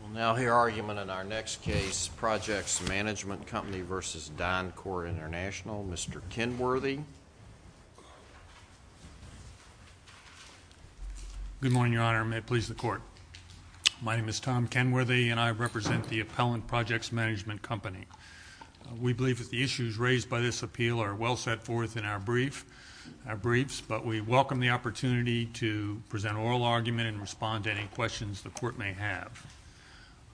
We'll now hear argument in our next case, Projects Management Company v. DynCorp International. Mr. Kenworthy. Good morning, Your Honor. May it please the Court. My name is Tom Kenworthy, and I represent the appellant, Projects Management Company. We believe that the issues raised by this appeal are well set forth in our briefs, but we welcome the opportunity to present an oral argument and respond to any questions the Court may have.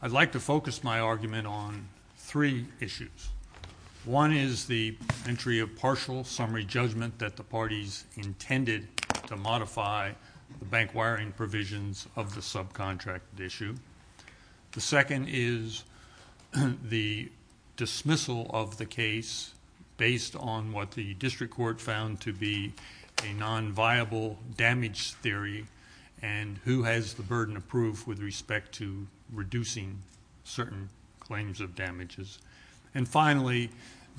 I'd like to focus my argument on three issues. One is the entry of partial summary judgment that the parties intended to modify the bank wiring provisions of the subcontracted issue. The second is the dismissal of the case based on what the district court found to be a nonviable damage theory and who has the burden of proof with respect to reducing certain claims of damages. And finally,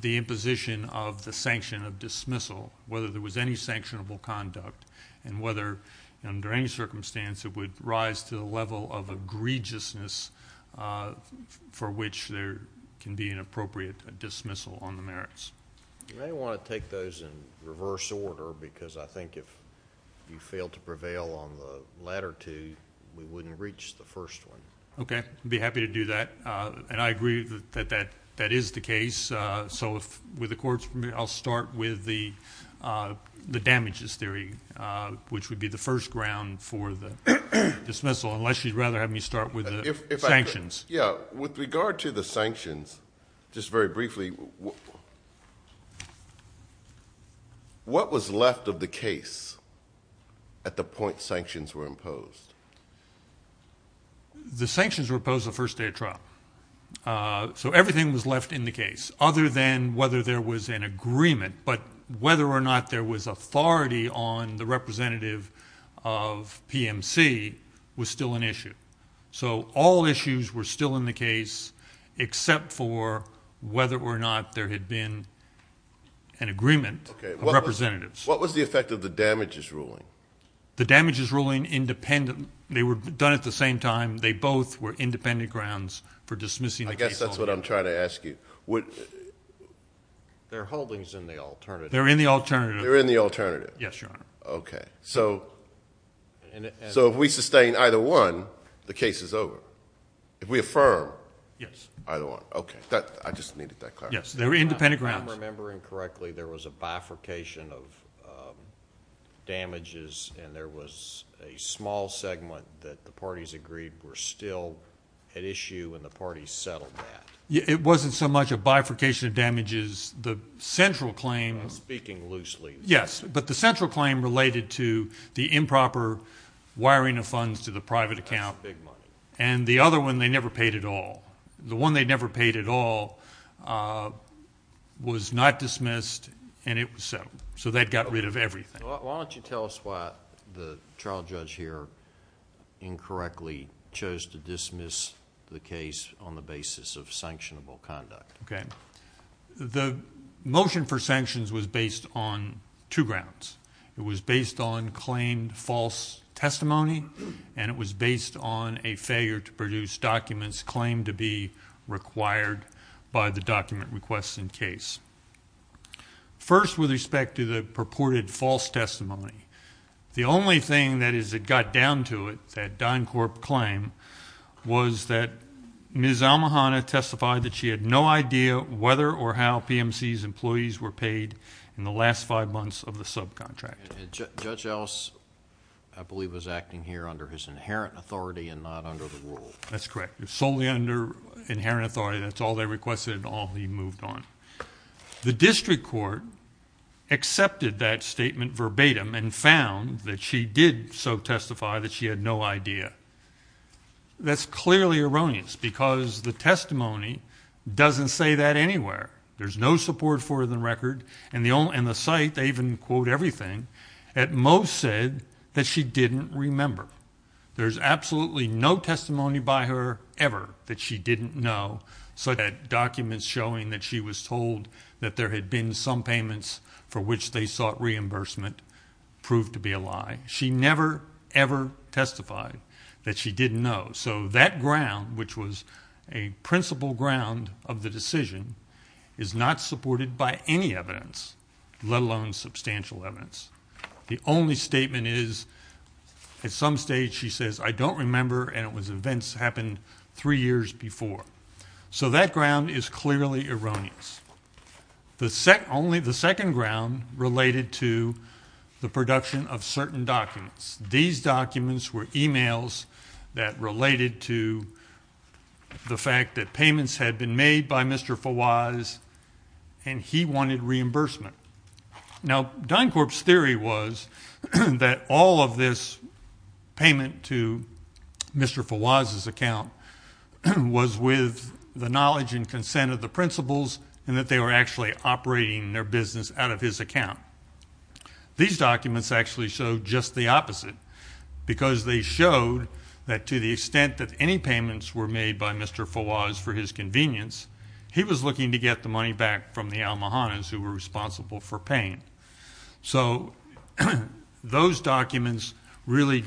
the imposition of the sanction of dismissal, whether there was any sanctionable conduct and whether under any circumstance it would rise to the level of egregiousness for which there can be an appropriate dismissal on the merits. You may want to take those in reverse order because I think if you fail to prevail on the latter two, we wouldn't reach the first one. Okay. I'd be happy to do that, and I agree that that is the case. So with the Court's permission, I'll start with the damages theory, which would be the first ground for the dismissal, unless you'd rather have me start with the sanctions. Yeah. With regard to the sanctions, just very briefly, what was left of the case at the point sanctions were imposed? The sanctions were imposed the first day of trial, so everything was left in the case other than whether there was an agreement, but whether or not there was authority on the representative of PMC was still an issue. So all issues were still in the case except for whether or not there had been an agreement of representatives. Okay. What was the effect of the damages ruling? The damages ruling, they were done at the same time. They both were independent grounds for dismissing the case altogether. I guess that's what I'm trying to ask you. Their holding is in the alternative. They're in the alternative. They're in the alternative. Yes, Your Honor. Okay. So if we sustain either one, the case is over. If we affirm either one. Yes. Okay. I just needed that clarification. Yes. They were independent grounds. If I'm remembering correctly, there was a bifurcation of damages, and there was a small segment that the parties agreed were still at issue, and the parties settled that. It wasn't so much a bifurcation of damages. The central claim— I'm speaking loosely. Yes, but the central claim related to the improper wiring of funds to the private account. That's big money. And the other one, they never paid at all. The one they never paid at all was not dismissed, and it was settled. So they got rid of everything. Why don't you tell us why the trial judge here incorrectly chose to dismiss the case on the basis of sanctionable conduct? Okay. The motion for sanctions was based on two grounds. It was based on claimed false testimony, and it was based on a failure to produce documents claimed to be required by the document request in case. First, with respect to the purported false testimony, the only thing that got down to it, that DynCorp claim, was that Ms. Almohanna testified that she had no idea whether or how PMC's employees were paid in the last five months of the subcontract. Judge Ellis, I believe, was acting here under his inherent authority and not under the rule. That's correct. Solely under inherent authority. That's all they requested and all he moved on. The district court accepted that statement verbatim and found that she did so testify that she had no idea. That's clearly erroneous because the testimony doesn't say that anywhere. There's no support for it in the record, and the site, they even quote everything. At most said that she didn't remember. There's absolutely no testimony by her ever that she didn't know, so that documents showing that she was told that there had been some payments for which they sought reimbursement proved to be a lie. She never, ever testified that she didn't know. So that ground, which was a principal ground of the decision, is not supported by any evidence, let alone substantial evidence. The only statement is at some stage she says, I don't remember and it was events that happened three years before. So that ground is clearly erroneous. Only the second ground related to the production of certain documents. These documents were emails that related to the fact that payments had been made by Mr. Fawaz and he wanted reimbursement. Now, DynCorp's theory was that all of this payment to Mr. Fawaz's account was with the knowledge and consent of the principals and that they were actually operating their business out of his account. These documents actually show just the opposite because they showed that to the extent that any payments were made by Mr. Fawaz for his convenience, he was looking to get the money back from the Almohannis who were responsible for paying. So those documents really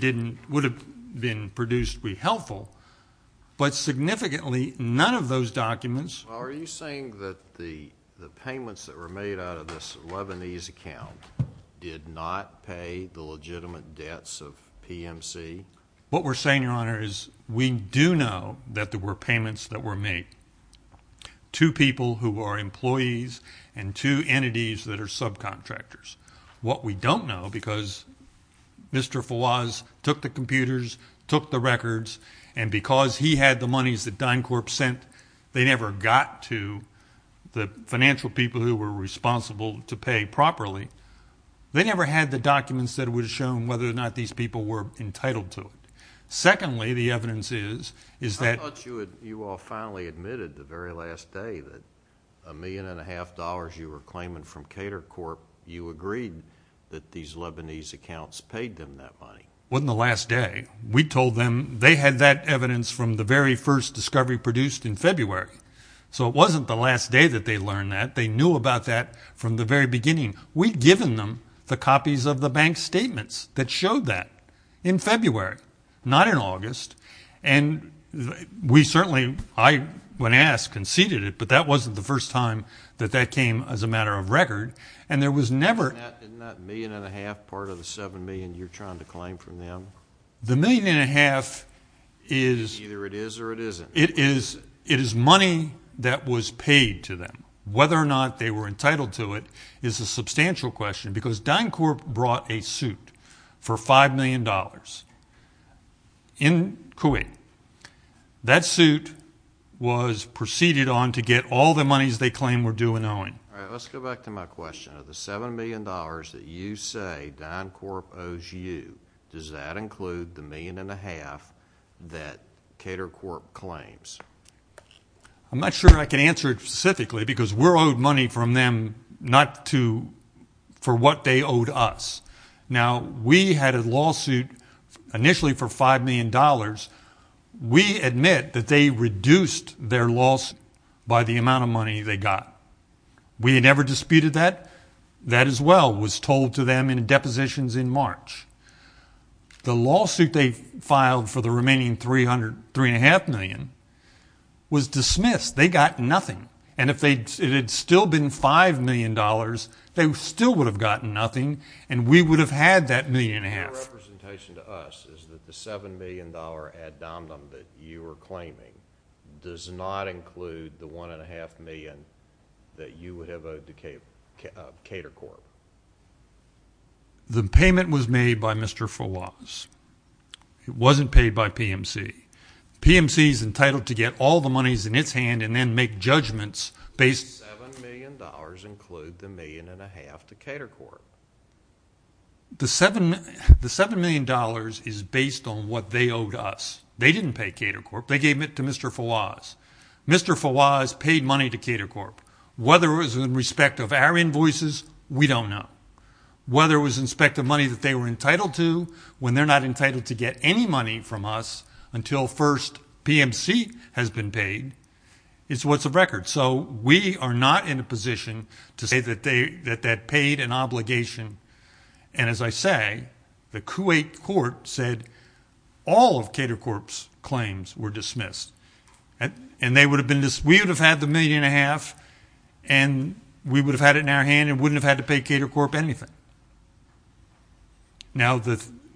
would have been produced to be helpful, but significantly none of those documents. Well, are you saying that the payments that were made out of this Lebanese account did not pay the legitimate debts of PMC? What we're saying, Your Honor, is we do know that there were payments that were made to people who are employees and to entities that are subcontractors. What we don't know, because Mr. Fawaz took the computers, took the records, and because he had the monies that DynCorp sent, they never got to the financial people who were responsible to pay properly. They never had the documents that would have shown whether or not these people were entitled to it. Secondly, the evidence is that— I thought you all finally admitted the very last day that a million and a half dollars you were claiming from CaterCorp, you agreed that these Lebanese accounts paid them that money. It wasn't the last day. We told them they had that evidence from the very first discovery produced in February. So it wasn't the last day that they learned that. They knew about that from the very beginning. We'd given them the copies of the bank statements that showed that in February, not in August. And we certainly—I, when asked, conceded it, but that wasn't the first time that that came as a matter of record. And there was never— Isn't that a million and a half part of the seven million you're trying to claim from them? The million and a half is— Either it is or it isn't. It is money that was paid to them. Whether or not they were entitled to it is a substantial question because DynCorp brought a suit for $5 million in Kuwait. That suit was proceeded on to get all the monies they claimed were due in owing. All right, let's go back to my question. Of the $7 million that you say DynCorp owes you, does that include the million and a half that Catercorp claims? I'm not sure I can answer it specifically because we're owed money from them not to—for what they owed us. Now, we had a lawsuit initially for $5 million. We admit that they reduced their lawsuit by the amount of money they got. We never disputed that. That, as well, was told to them in depositions in March. The lawsuit they filed for the remaining $3.5 million was dismissed. They got nothing. And if it had still been $5 million, they still would have gotten nothing, and we would have had that million and a half. Your representation to us is that the $7 million ad dominum that you are claiming does not include the $1.5 million that you would have owed to Catercorp. The payment was made by Mr. Fawaz. It wasn't paid by PMC. PMC is entitled to get all the monies in its hand and then make judgments based— $7 million include the million and a half to Catercorp. The $7 million is based on what they owed us. They didn't pay Catercorp. They gave it to Mr. Fawaz. Mr. Fawaz paid money to Catercorp. Whether it was in respect of our invoices, we don't know. Whether it was in respect of money that they were entitled to, when they're not entitled to get any money from us until first PMC has been paid, it's what's of record. So we are not in a position to say that that paid an obligation. As I say, the Kuwait court said all of Catercorp's claims were dismissed. We would have had the million and a half, and we would have had it in our hand and wouldn't have had to pay Catercorp anything. Now,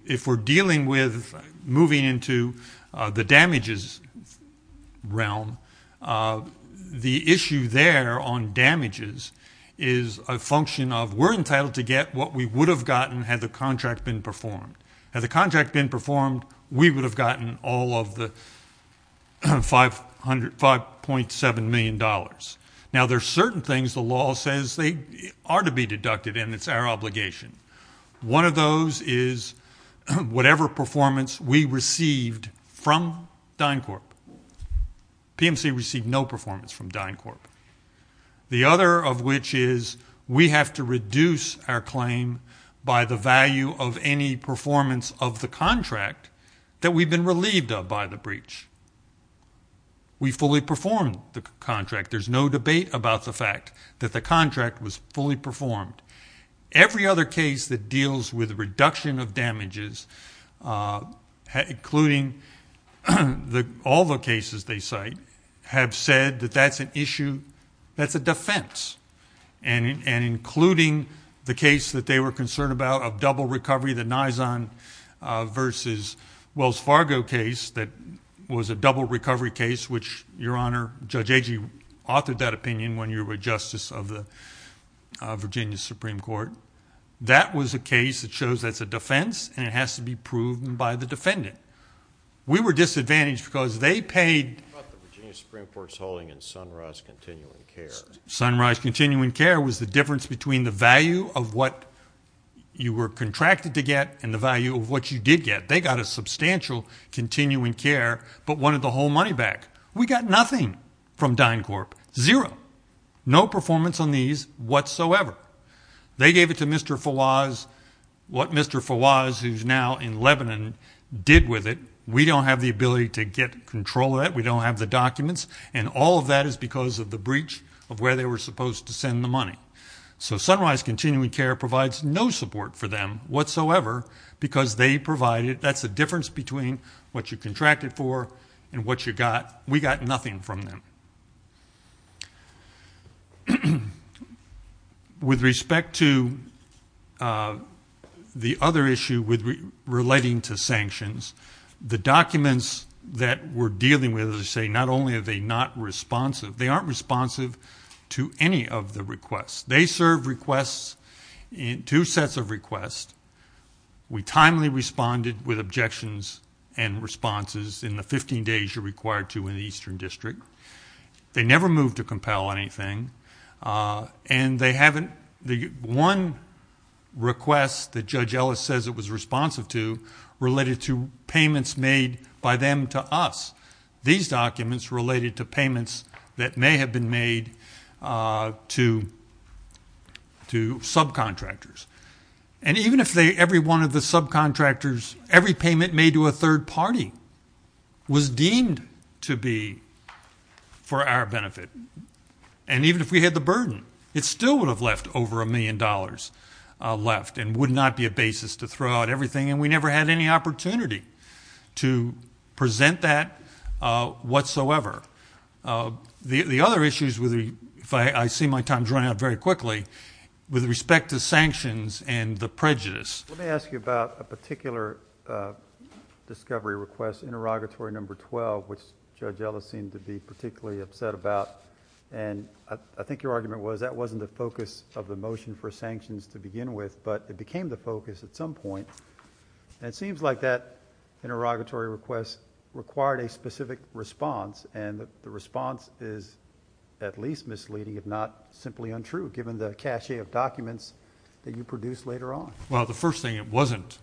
if we're dealing with moving into the damages realm, the issue there on damages is a function of we're entitled to get what we would have gotten had the contract been performed. Had the contract been performed, we would have gotten all of the $5.7 million. Now, there are certain things the law says they are to be deducted, and it's our obligation. One of those is whatever performance we received from DynCorp. PMC received no performance from DynCorp. The other of which is we have to reduce our claim by the value of any performance of the contract that we've been relieved of by the breach. We fully performed the contract. There's no debate about the fact that the contract was fully performed. Every other case that deals with reduction of damages, including all the cases they cite, have said that that's an issue that's a defense, and including the case that they were concerned about of double recovery, the Nizon versus Wells Fargo case that was a double recovery case, which, Your Honor, Judge Agee authored that opinion when you were Justice of the Virginia Supreme Court. That was a case that shows that's a defense, and it has to be proven by the defendant. We were disadvantaged because they paid... What about the Virginia Supreme Court's holding in Sunrise Continuing Care? Sunrise Continuing Care was the difference between the value of what you were contracted to get and the value of what you did get. They got a substantial continuing care but wanted the whole money back. We got nothing from DynCorp. Zero. No performance on these whatsoever. They gave it to Mr. Fawaz. What Mr. Fawaz, who's now in Lebanon, did with it, we don't have the ability to get control of that. We don't have the documents. And all of that is because of the breach of where they were supposed to send the money. So Sunrise Continuing Care provides no support for them whatsoever because they provided... That's the difference between what you contracted for and what you got. We got nothing from them. With respect to the other issue relating to sanctions, the documents that we're dealing with, as I say, not only are they not responsive, they aren't responsive to any of the requests. They serve requests, two sets of requests. We timely responded with objections and responses in the 15 days you're required to in the Eastern District. They never moved to compel anything. And they haven't... One request that Judge Ellis says it was responsive to related to payments made by them to us. These documents related to payments that may have been made to subcontractors. And even if every one of the subcontractors, every payment made to a third party was deemed to be for our benefit, and even if we had the burden, it still would have left over a million dollars left and would not be a basis to throw out everything. And we never had any opportunity to present that whatsoever. The other issues, if I see my time's running out very quickly, with respect to sanctions and the prejudice... Let me ask you about a particular discovery request, interrogatory number 12, which Judge Ellis seemed to be particularly upset about. And I think your argument was that wasn't the focus of the motion for sanctions to begin with, but it became the focus at some point. And it seems like that interrogatory request required a specific response, and the response is at least misleading, if not simply untrue, given the cache of documents that you produced later on. Well, the first thing, it wasn't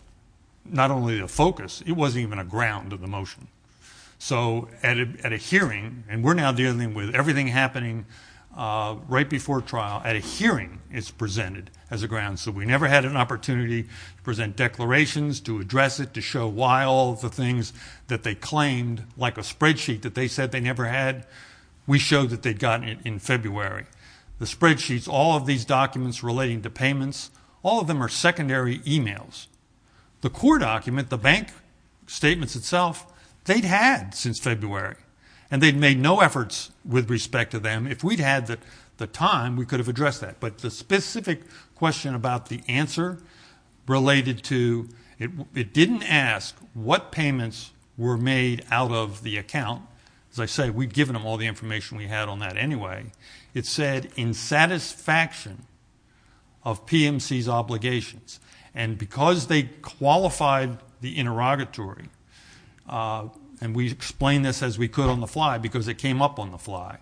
not only a focus, it wasn't even a ground of the motion. So at a hearing, and we're now dealing with everything happening right before trial, at a hearing, it's presented as a ground. So we never had an opportunity to present declarations, to address it, to show why all of the things that they claimed, like a spreadsheet that they said they never had, we showed that they'd gotten it in February. The spreadsheets, all of these documents relating to payments, all of them are secondary emails. The core document, the bank statements itself, they'd had since February. And they'd made no efforts with respect to them. If we'd had the time, we could have addressed that. But the specific question about the answer related to it didn't ask what payments were made out of the account. As I say, we'd given them all the information we had on that anyway. It said, in satisfaction of PMC's obligations, and because they qualified the interrogatory, and we explained this as we could on the fly because it came up on the fly,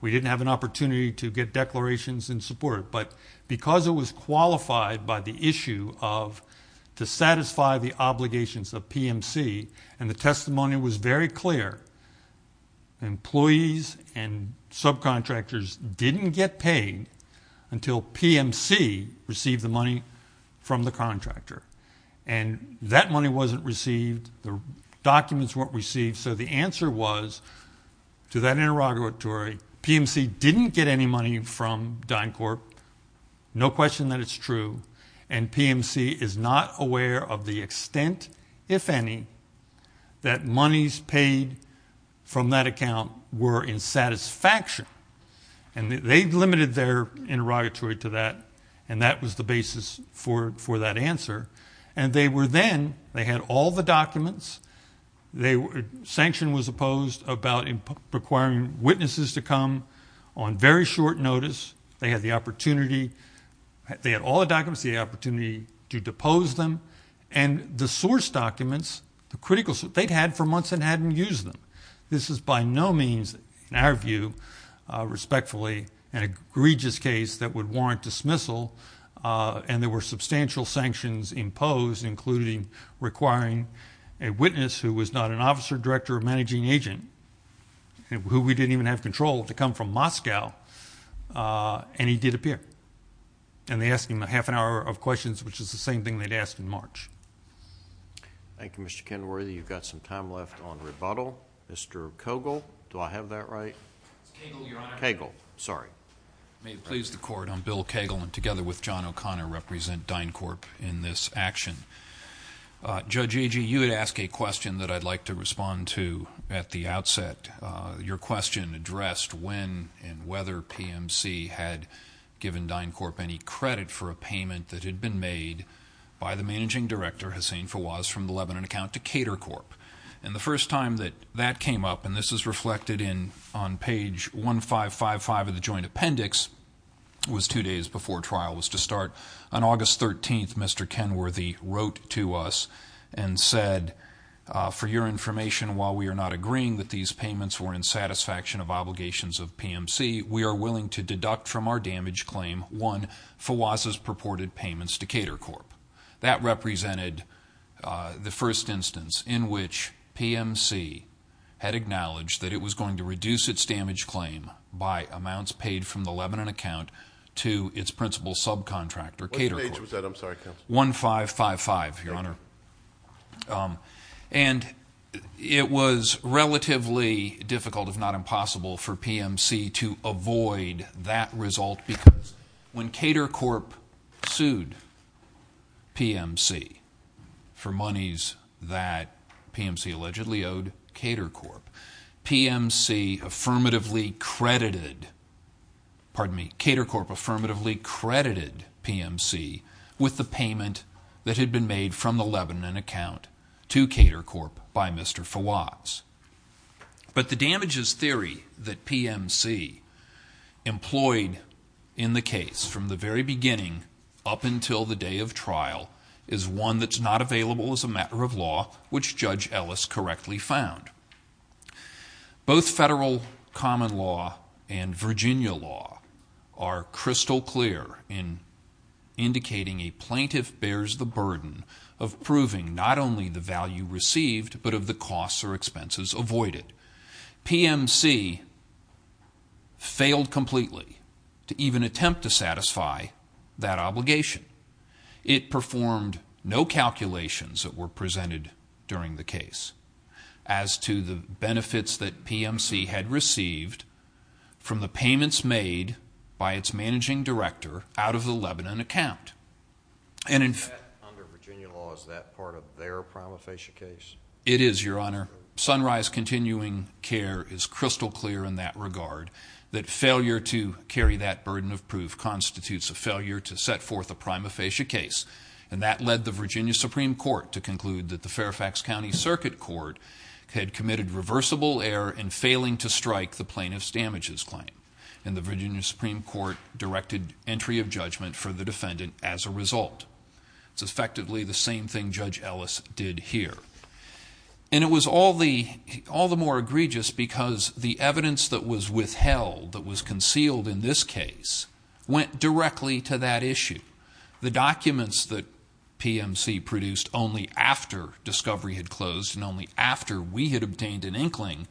we didn't have an opportunity to get declarations in support. But because it was qualified by the issue of to satisfy the obligations of PMC and the testimony was very clear, employees and subcontractors didn't get paid until PMC received the money from the contractor. And that money wasn't received. The documents weren't received. So the answer was to that interrogatory, PMC didn't get any money from DynCorp. No question that it's true. And PMC is not aware of the extent, if any, that monies paid from that account were in satisfaction. And they limited their interrogatory to that, and that was the basis for that answer. And they were then, they had all the documents. Sanction was opposed about requiring witnesses to come on very short notice. They had the opportunity, they had all the documents, the opportunity to depose them. And the source documents, the critical source, they'd had for months and hadn't used them. This is by no means, in our view, respectfully, an egregious case that would warrant dismissal. And there were substantial sanctions imposed, including requiring a witness who was not an officer, director, or managing agent, who we didn't even have control to come from Moscow, and he did appear. And they asked him a half an hour of questions, which is the same thing they'd asked in March. Thank you, Mr. Kenworthy. You've got some time left on rebuttal. Mr. Cogle, do I have that right? Cagle, Your Honor. Cagle, sorry. May it please the Court, I'm Bill Cagle, and together with John O'Connor represent DynCorp in this action. Judge Agee, you had asked a question that I'd like to respond to at the outset. Your question addressed when and whether PMC had given DynCorp any credit for a payment that had been made by the managing director, Hussein Fawaz, from the Lebanon account to Catercorp. And the first time that that came up, and this is reflected on page 1555 of the joint appendix, was two days before trial was to start. On August 13th, Mr. Kenworthy wrote to us and said, for your information, while we are not agreeing that these payments were in satisfaction of obligations of PMC, we are willing to deduct from our damage claim, one, Fawaz's purported payments to Catercorp. That represented the first instance in which PMC had acknowledged that it was going to reduce its damage claim by amounts paid from the Lebanon account to its principal subcontractor, Catercorp. What page was that? I'm sorry, counsel. 1555, Your Honor. And it was relatively difficult, if not impossible, for PMC to avoid that result because when Catercorp sued PMC for monies that PMC allegedly owed Catercorp, PMC affirmatively credited, pardon me, Catercorp affirmatively credited PMC with the payment that had been made from the Lebanon account to Catercorp by Mr. Fawaz. But the damages theory that PMC employed in the case from the very beginning up until the day of trial is one that's not available as a matter of law, which Judge Ellis correctly found. Both federal common law and Virginia law are crystal clear in indicating a plaintiff bears the burden of proving not only the value received but of the costs or expenses avoided. PMC failed completely to even attempt to satisfy that obligation. It performed no calculations that were presented during the case as to the benefits that PMC had received from the payments made by its managing director out of the Lebanon account. Under Virginia law, is that part of their prima facie case? It is, Your Honor. Sunrise Continuing Care is crystal clear in that regard, that failure to carry that burden of proof constitutes a failure to set forth a prima facie case. And that led the Virginia Supreme Court to conclude that the Fairfax County Circuit Court had committed reversible error in failing to strike the plaintiff's damages claim. And the Virginia Supreme Court directed entry of judgment for the defendant as a result. It's effectively the same thing Judge Ellis did here. And it was all the more egregious because the evidence that was withheld, that was concealed in this case, went directly to that issue. The documents that PMC produced only after discovery had closed and only after we had obtained an inkling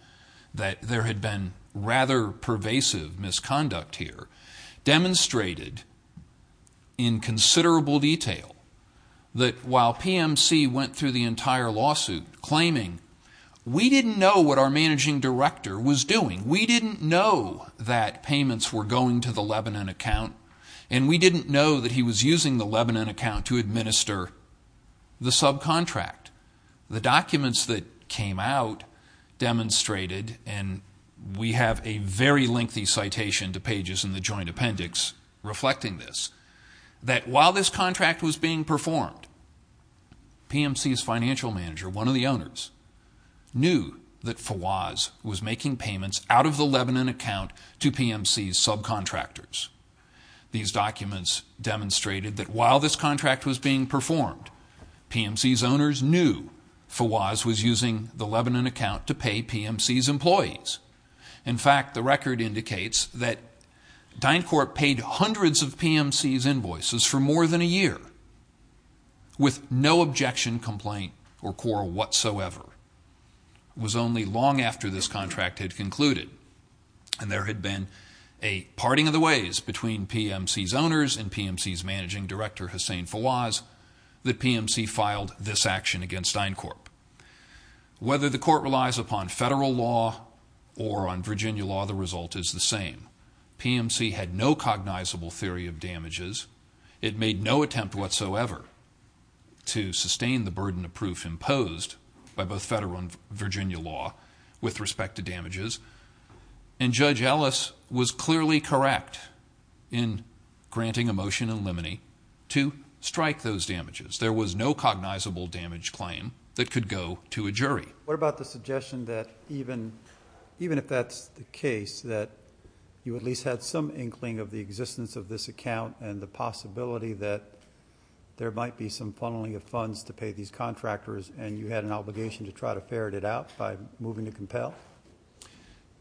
that there had been rather pervasive misconduct here demonstrated in considerable detail that while PMC went through the entire lawsuit claiming, we didn't know what our managing director was doing. We didn't know that payments were going to the Lebanon account, and we didn't know that he was using the Lebanon account to administer the subcontract. The documents that came out demonstrated, and we have a very lengthy citation to pages in the joint appendix reflecting this, that while this contract was being performed, PMC's financial manager, one of the owners, knew that Fawaz was making payments out of the Lebanon account to PMC's subcontractors. These documents demonstrated that while this contract was being performed, PMC's owners knew Fawaz was using the Lebanon account to pay PMC's employees. In fact, the record indicates that DynCorp paid hundreds of PMC's invoices for more than a year. With no objection, complaint, or quarrel whatsoever, it was only long after this contract had concluded, and there had been a parting of the ways between PMC's owners and PMC's managing director, Hussein Fawaz, that PMC filed this action against DynCorp. Whether the court relies upon federal law or on Virginia law, the result is the same. PMC had no cognizable theory of damages. It made no attempt whatsoever to sustain the burden of proof imposed by both federal and Virginia law with respect to damages. And Judge Ellis was clearly correct in granting a motion in limine to strike those damages. There was no cognizable damage claim that could go to a jury. What about the suggestion that even if that's the case, that you at least had some inkling of the existence of this account and the possibility that there might be some funneling of funds to pay these contractors and you had an obligation to try to ferret it out by moving to compel?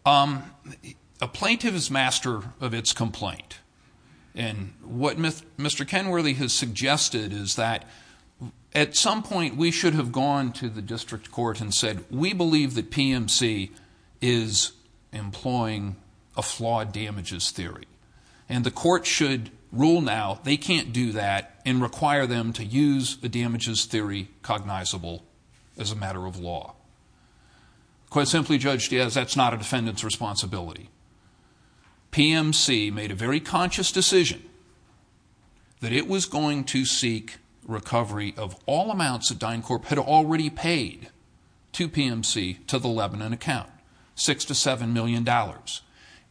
A plaintiff is master of its complaint. And what Mr. Kenworthy has suggested is that at some point we should have gone to the district court and said, we believe that PMC is employing a flawed damages theory. And the court should rule now they can't do that and require them to use the damages theory cognizable as a matter of law. Quite simply, Judge Diaz, that's not a defendant's responsibility. PMC made a very conscious decision that it was going to seek recovery of all amounts that DynCorp had already paid to PMC to the Lebanon account, $6 to $7 million.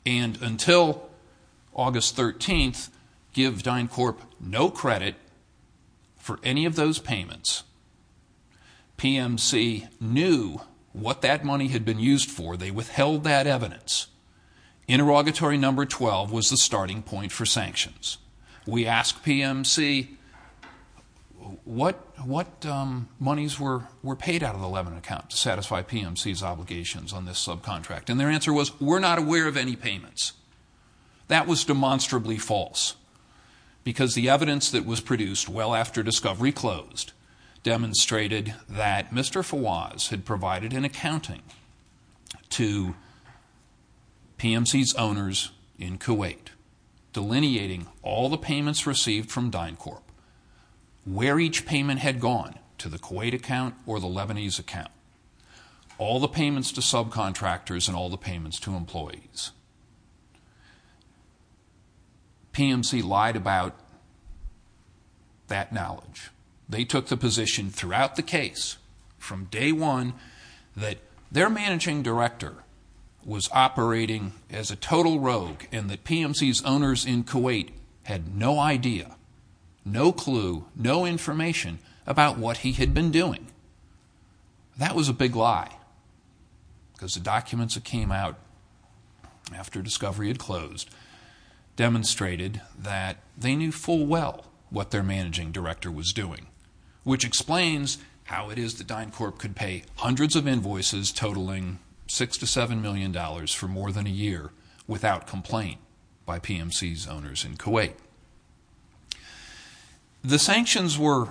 And until August 13th, give DynCorp no credit for any of those payments. PMC knew what that money had been used for. They withheld that evidence. Interrogatory number 12 was the starting point for sanctions. We asked PMC what monies were paid out of the Lebanon account to satisfy PMC's obligations on this subcontract. And their answer was, we're not aware of any payments. That was demonstrably false because the evidence that was produced well after discovery closed demonstrated that Mr. Fawaz had provided an accounting to PMC's owners in Kuwait, delineating all the payments received from DynCorp, where each payment had gone to the Kuwait account or the Lebanese account, all the payments to subcontractors and all the payments to employees. PMC lied about that knowledge. They took the position throughout the case from day one that their managing director was operating as a total rogue and that PMC's owners in Kuwait had no idea, no clue, no information about what he had been doing. That was a big lie because the documents that came out after discovery had closed demonstrated that they knew full well what their managing director was doing, which explains how it is that DynCorp could pay hundreds of invoices totaling $6 to $7 million for more than a year without complaint by PMC's owners in Kuwait. The sanctions were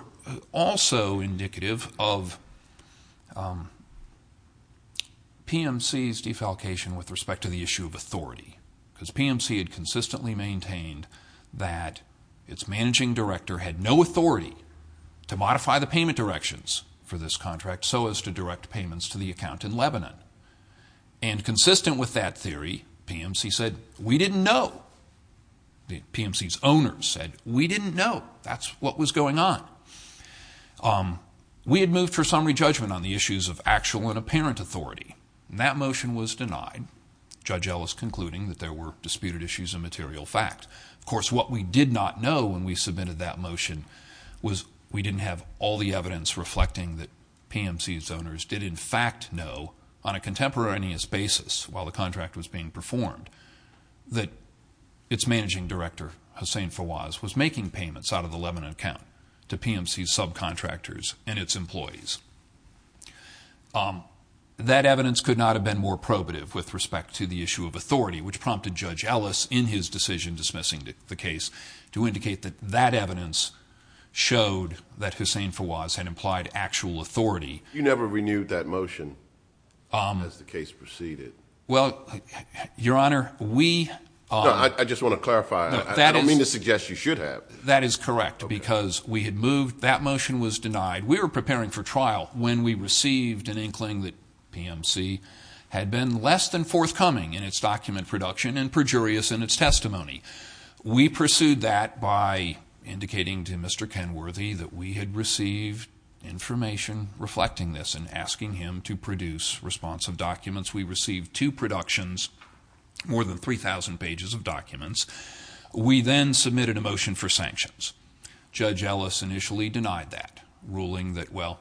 also indicative of PMC's defalcation with respect to the issue of authority because PMC had consistently maintained that its managing director had no authority to modify the payment directions for this contract so as to direct payments to the account in Lebanon. And consistent with that theory, PMC said, we didn't know. PMC's owners said, we didn't know. That's what was going on. We had moved for summary judgment on the issues of actual and apparent authority, and that motion was denied. Judge Ellis concluding that there were disputed issues of material fact. Of course, what we did not know when we submitted that motion was we didn't have all the evidence reflecting that PMC's owners did in fact know, on a contemporaneous basis while the contract was being performed, that its managing director, Hussein Fawaz, was making payments out of the Lebanon account to PMC's subcontractors and its employees. That evidence could not have been more probative with respect to the issue of authority, which prompted Judge Ellis, in his decision dismissing the case, to indicate that that evidence showed that Hussein Fawaz had implied actual authority. You never renewed that motion as the case proceeded? Well, Your Honor, we... No, I just want to clarify. I don't mean to suggest you should have. That is correct because we had moved, that motion was denied. We were preparing for trial when we received an inkling that PMC had been less than forthcoming in its document production and perjurious in its testimony. We pursued that by indicating to Mr. Kenworthy that we had received information reflecting this and asking him to produce responsive documents. We received two productions, more than 3,000 pages of documents. We then submitted a motion for sanctions. Judge Ellis initially denied that, ruling that, well,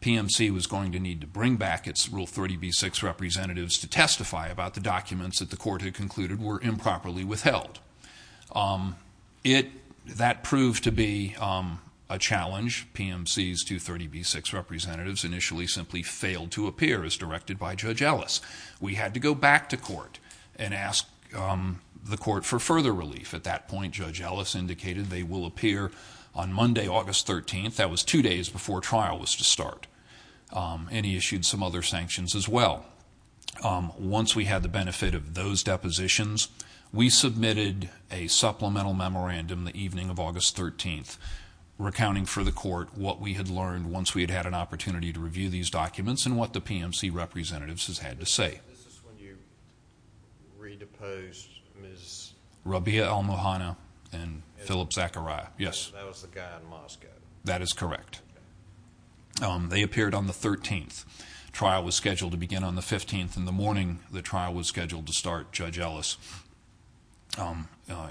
PMC was going to need to bring back its Rule 30b-6 representatives to testify about the documents that the court had concluded were improperly withheld. That proved to be a challenge. PMC's Rule 30b-6 representatives initially simply failed to appear, as directed by Judge Ellis. We had to go back to court and ask the court for further relief. At that point, Judge Ellis indicated they will appear on Monday, August 13th. That was two days before trial was to start. He issued some other sanctions as well. Once we had the benefit of those depositions, we submitted a supplemental memorandum the evening of August 13th, recounting for the court what we had learned once we had had an opportunity to review these documents and what the PMC representatives had to say. This is when you re-deposed Ms. Rabia Al-Muhanna and Philip Zachariah. That was the guy in Moscow. That is correct. They appeared on the 13th. Trial was scheduled to begin on the 15th. In the morning the trial was scheduled to start, Judge Ellis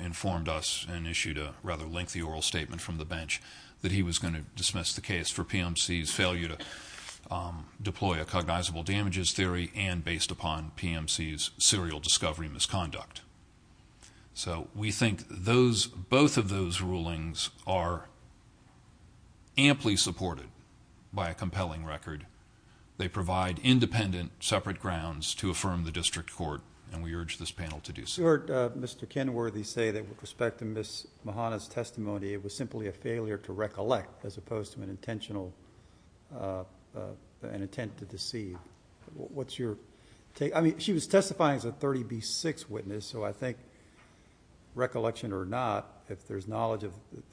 informed us and issued a rather lengthy oral statement from the bench that he was going to dismiss the case for PMC's failure to deploy a cognizable damages theory and based upon PMC's serial discovery misconduct. We think both of those rulings are amply supported by a compelling record. They provide independent separate grounds to affirm the district court and we urge this panel to do so. You heard Mr. Kenworthy say that with respect to Ms. Al-Muhanna's testimony, it was simply a failure to recollect as opposed to an intent to deceive. What's your take? She was testifying as a 30B6 witness, so I think recollection or not, if the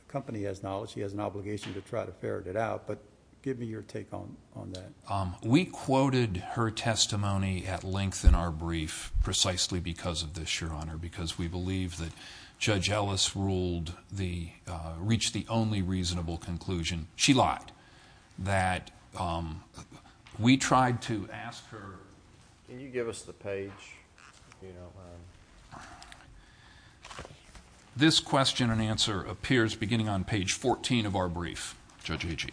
company has knowledge, she has an obligation to try to ferret it out, but give me your take on that. We quoted her testimony at length in our brief precisely because of this, Your Honor, because we believe that Judge Ellis reached the only reasonable conclusion. She lied, that we tried to ask her. Can you give us the page? This question and answer appears beginning on page 14 of our brief, Judge Agee.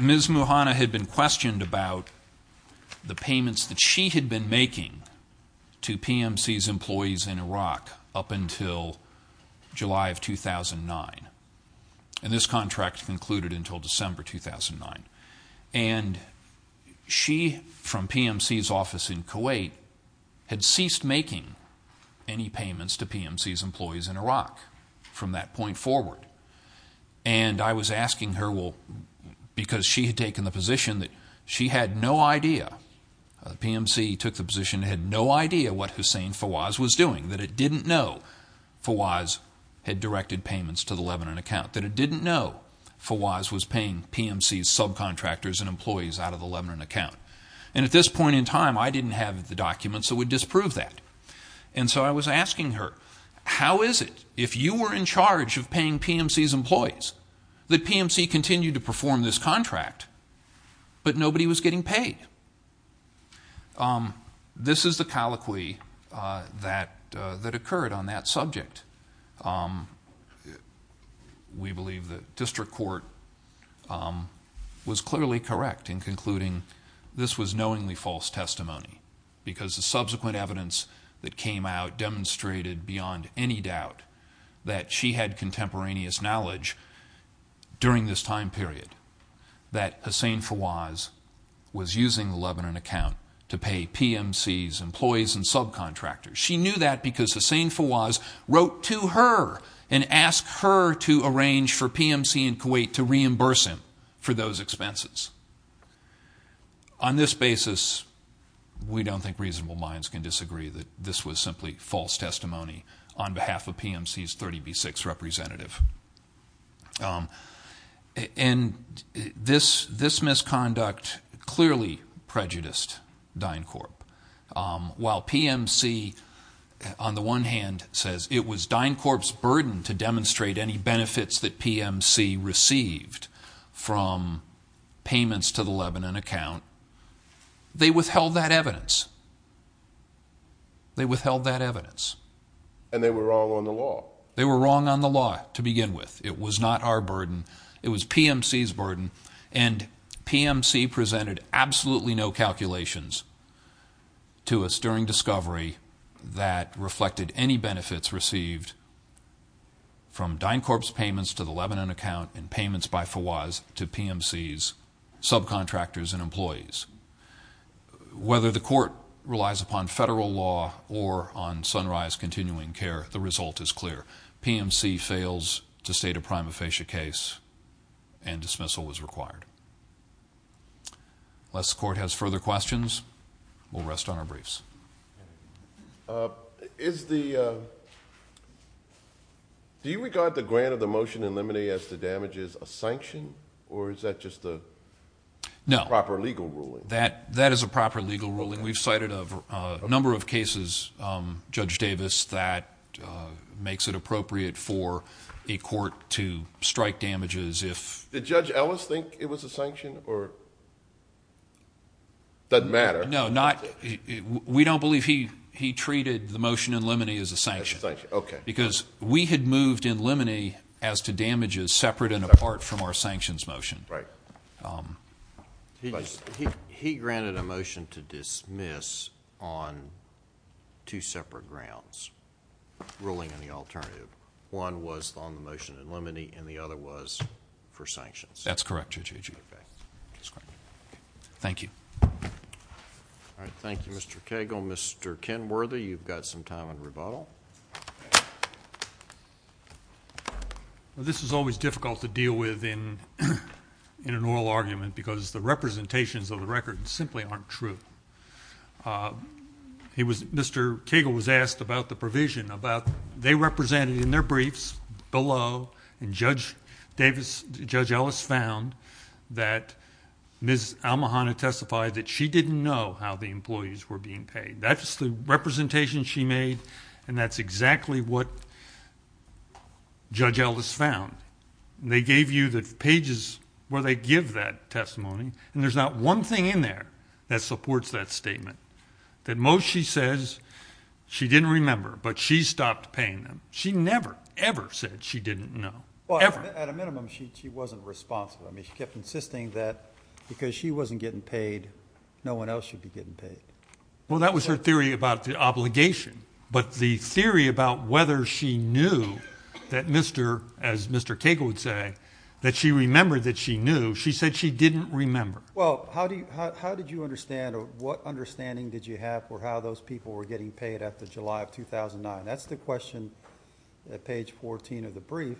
Ms. Muhanna had been questioned about the payments that she had been making to PMC's employees in Iraq up until July of 2009, and this contract concluded until December 2009. She, from PMC's office in Kuwait, had ceased making any payments to PMC's employees in Iraq from that point forward. I was asking her because she had taken the position that she had no idea. PMC took the position it had no idea what Hussein Fawaz was doing, that it didn't know Fawaz had directed payments to the Lebanon account, that it didn't know Fawaz was paying PMC's subcontractors and employees out of the Lebanon account. At this point in time, I didn't have the documents that would disprove that. So I was asking her, how is it, if you were in charge of paying PMC's employees, that PMC continued to perform this contract, but nobody was getting paid? This is the colloquy that occurred on that subject. We believe that district court was clearly correct in concluding this was knowingly false testimony, because the subsequent evidence that came out demonstrated beyond any doubt that she had contemporaneous knowledge during this time period that Hussein Fawaz was using the Lebanon account to pay PMC's employees and subcontractors. She knew that because Hussein Fawaz wrote to her and asked her to arrange for PMC in Kuwait to reimburse him for those expenses. On this basis, we don't think reasonable minds can disagree that this was simply false testimony on behalf of PMC's 30B6 representative. This misconduct clearly prejudiced DynCorp. While PMC, on the one hand, says it was DynCorp's burden to demonstrate any benefits that PMC received from payments to the Lebanon account, they withheld that evidence. They withheld that evidence. And they were wrong on the law. They were wrong on the law to begin with. It was not our burden. It was PMC's burden. And PMC presented absolutely no calculations to us during discovery that reflected any benefits received from DynCorp's payments to the Lebanon account and payments by Fawaz to PMC's subcontractors and employees. Whether the court relies upon federal law or on Sunrise Continuing Care, the result is clear. PMC fails to state a prima facie case, and dismissal was required. Unless the court has further questions, we'll rest on our briefs. Do you regard the grant of the motion in Limine as the damages a sanction, or is that just a proper legal ruling? No, that is a proper legal ruling. We've cited a number of cases, Judge Davis, that makes it appropriate for a court to strike damages if... Did Judge Ellis think it was a sanction or... doesn't matter? No, not... we don't believe he treated the motion in Limine as a sanction. Because we had moved in Limine as to damages separate and apart from our sanctions motion. He granted a motion to dismiss on two separate grounds, ruling on the alternative. One was on the motion in Limine, and the other was for sanctions. That's correct, Judge Agee. Thank you. All right, thank you, Mr. Cagle. Mr. Kenworthy, you've got some time on rebuttal. This is always difficult to deal with in an oral argument, because the representations of the record simply aren't true. They represented in their briefs below, and Judge Ellis found that Ms. Almohanna testified that she didn't know how the employees were being paid. That's the representation she made, and that's exactly what Judge Ellis found. They gave you the pages where they give that testimony, and there's not one thing in there that supports that statement. That most she says she didn't remember, but she stopped paying them. She never, ever said she didn't know, ever. At a minimum, she wasn't responsible. I mean, she kept insisting that because she wasn't getting paid, no one else should be getting paid. Well, that was her theory about the obligation. But the theory about whether she knew that, as Mr. Cagle would say, that she remembered that she knew, she said she didn't remember. Well, how did you understand or what understanding did you have for how those people were getting paid after July of 2009? That's the question at page 14 of the brief.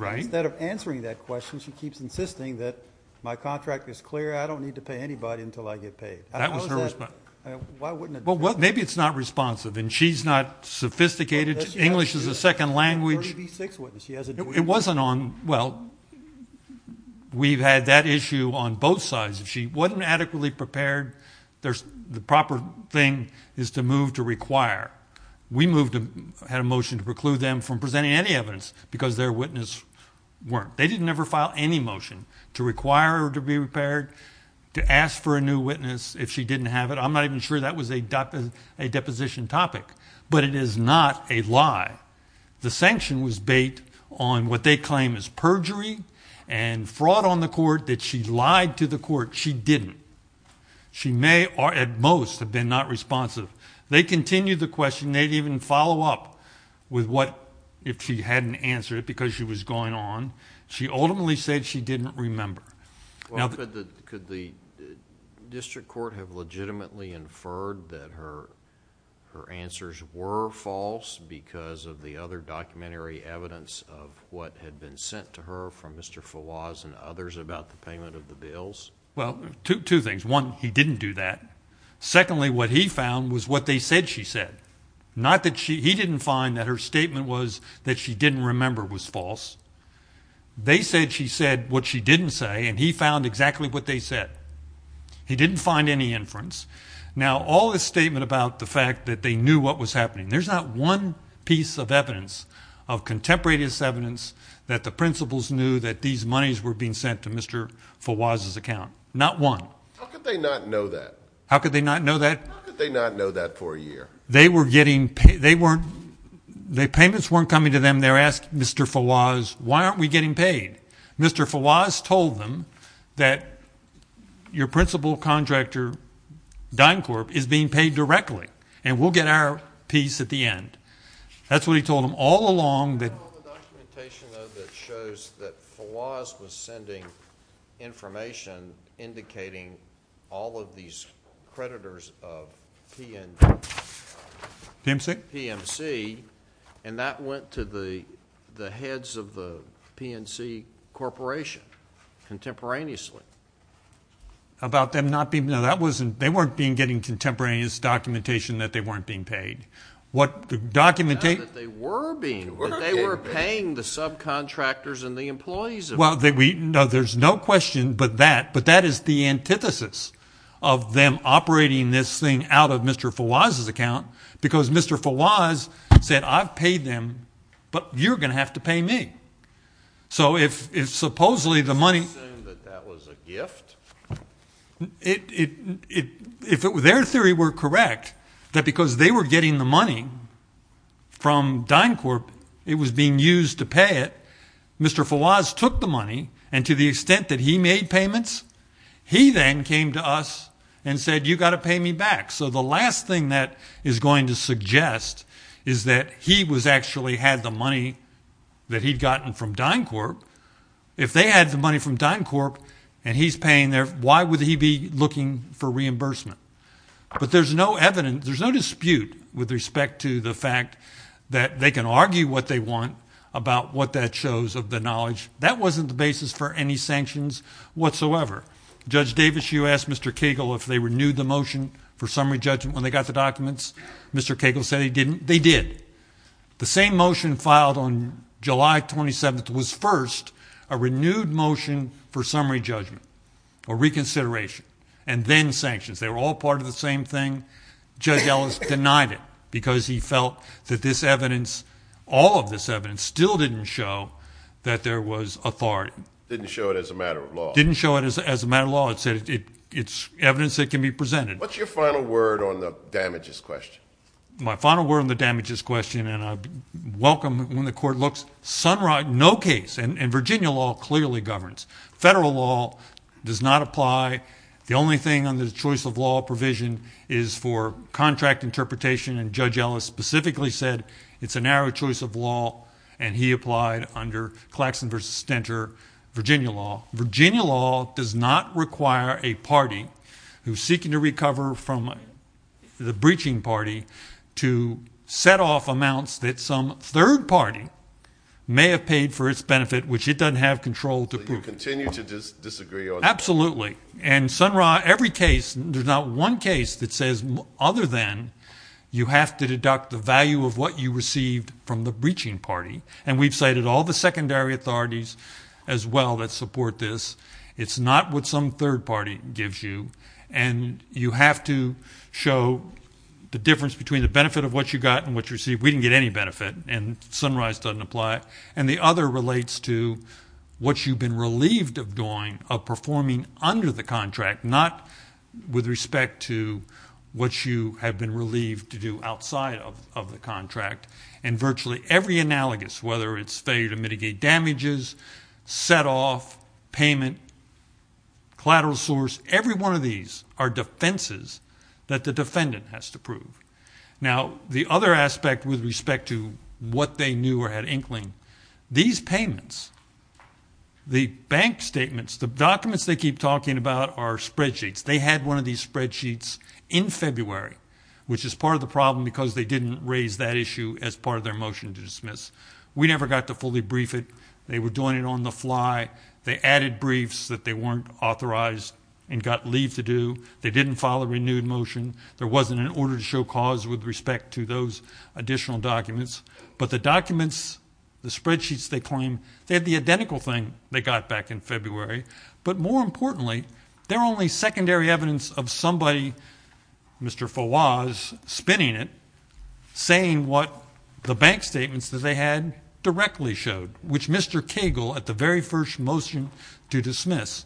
Instead of answering that question, she keeps insisting that my contract is clear. I don't need to pay anybody until I get paid. That was her response. Well, maybe it's not responsive, and she's not sophisticated. English is a second language. It wasn't on, well, we've had that issue on both sides. If she wasn't adequately prepared, the proper thing is to move to require. We had a motion to preclude them from presenting any evidence because their witness weren't. They didn't ever file any motion to require her to be repaired, to ask for a new witness if she didn't have it. I'm not even sure that was a deposition topic. But it is not a lie. The sanction was bait on what they claim is perjury and fraud on the court that she lied to the court. She didn't. She may at most have been not responsive. They continued the question. They didn't even follow up with what if she hadn't answered it because she was going on. She ultimately said she didn't remember. Well, could the district court have legitimately inferred that her answers were false because of the other documentary evidence of what had been sent to her from Mr. Fawaz and others about the payment of the bills? Well, two things. One, he didn't do that. Secondly, what he found was what they said she said. He didn't find that her statement was that she didn't remember was false. They said she said what she didn't say, and he found exactly what they said. He didn't find any inference. Now, all this statement about the fact that they knew what was happening, there's not one piece of evidence, of contemporaneous evidence, that the principals knew that these monies were being sent to Mr. Fawaz's account. Not one. How could they not know that? How could they not know that? How could they not know that for a year? They were getting payments. The payments weren't coming to them. And they're asking Mr. Fawaz, why aren't we getting paid? Mr. Fawaz told them that your principal contractor, DynCorp, is being paid directly, and we'll get our piece at the end. That's what he told them all along. The documentation, though, that shows that Fawaz was sending information indicating all of these creditors of PMC, and that went to the heads of the PMC Corporation contemporaneously. About them not being – no, that wasn't – they weren't being getting contemporaneous documentation that they weren't being paid. Not that they were being. They were paying the subcontractors and the employees of PMC. No, there's no question but that. But that is the antithesis of them operating this thing out of Mr. Fawaz's account, because Mr. Fawaz said, I've paid them, but you're going to have to pay me. So if supposedly the money – You're saying that that was a gift? If their theory were correct, that because they were getting the money from DynCorp, it was being used to pay it, Mr. Fawaz took the money, and to the extent that he made payments, he then came to us and said, you've got to pay me back. So the last thing that is going to suggest is that he actually had the money that he'd gotten from DynCorp. If they had the money from DynCorp and he's paying their – why would he be looking for reimbursement? But there's no evidence – there's no dispute with respect to the fact that they can argue what they want about what that shows of the knowledge. That wasn't the basis for any sanctions whatsoever. Judge Davis, you asked Mr. Cagle if they renewed the motion for summary judgment when they got the documents. Mr. Cagle said he didn't. They did. The same motion filed on July 27th was first a renewed motion for summary judgment, a reconsideration, and then sanctions. They were all part of the same thing. Judge Ellis denied it because he felt that this evidence, all of this evidence, still didn't show that there was authority. Didn't show it as a matter of law. Didn't show it as a matter of law. It said it's evidence that can be presented. What's your final word on the damages question? My final word on the damages question, and I welcome when the court looks, no case, and Virginia law clearly governs. Federal law does not apply. The only thing under the choice of law provision is for contract interpretation, and Judge Ellis specifically said it's a narrow choice of law, and he applied under Claxton v. Stenter, Virginia law. Virginia law does not require a party who's seeking to recover from the breaching party to set off amounts that some third party may have paid for its benefit, which it doesn't have control to prove. So you continue to disagree? Absolutely. And, Sun Ra, every case, there's not one case that says other than you have to deduct the value of what you received from the breaching party, and we've cited all the secondary authorities as well that support this. It's not what some third party gives you, and you have to show the difference between the benefit of what you got and what you received. We didn't get any benefit, and Sun Ra's doesn't apply. And the other relates to what you've been relieved of doing, of performing under the contract, not with respect to what you have been relieved to do outside of the contract. And virtually every analogous, whether it's failure to mitigate damages, set off, payment, collateral source, every one of these are defenses that the defendant has to prove. Now, the other aspect with respect to what they knew or had inkling, these payments, the bank statements, the documents they keep talking about are spreadsheets. They had one of these spreadsheets in February, which is part of the problem because they didn't raise that issue as part of their motion to dismiss. We never got to fully brief it. They were doing it on the fly. They added briefs that they weren't authorized and got leave to do. They didn't file a renewed motion. There wasn't an order to show cause with respect to those additional documents. But the documents, the spreadsheets they claim, they had the identical thing they got back in February, but more importantly, they're only secondary evidence of somebody, Mr. Fawaz, spinning it, saying what the bank statements that they had directly showed, which Mr. Cagle, at the very first motion to dismiss,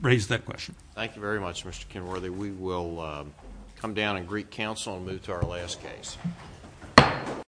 raised that question. Thank you very much, Mr. Kenworthy. We will come down and greet counsel and move to our last case.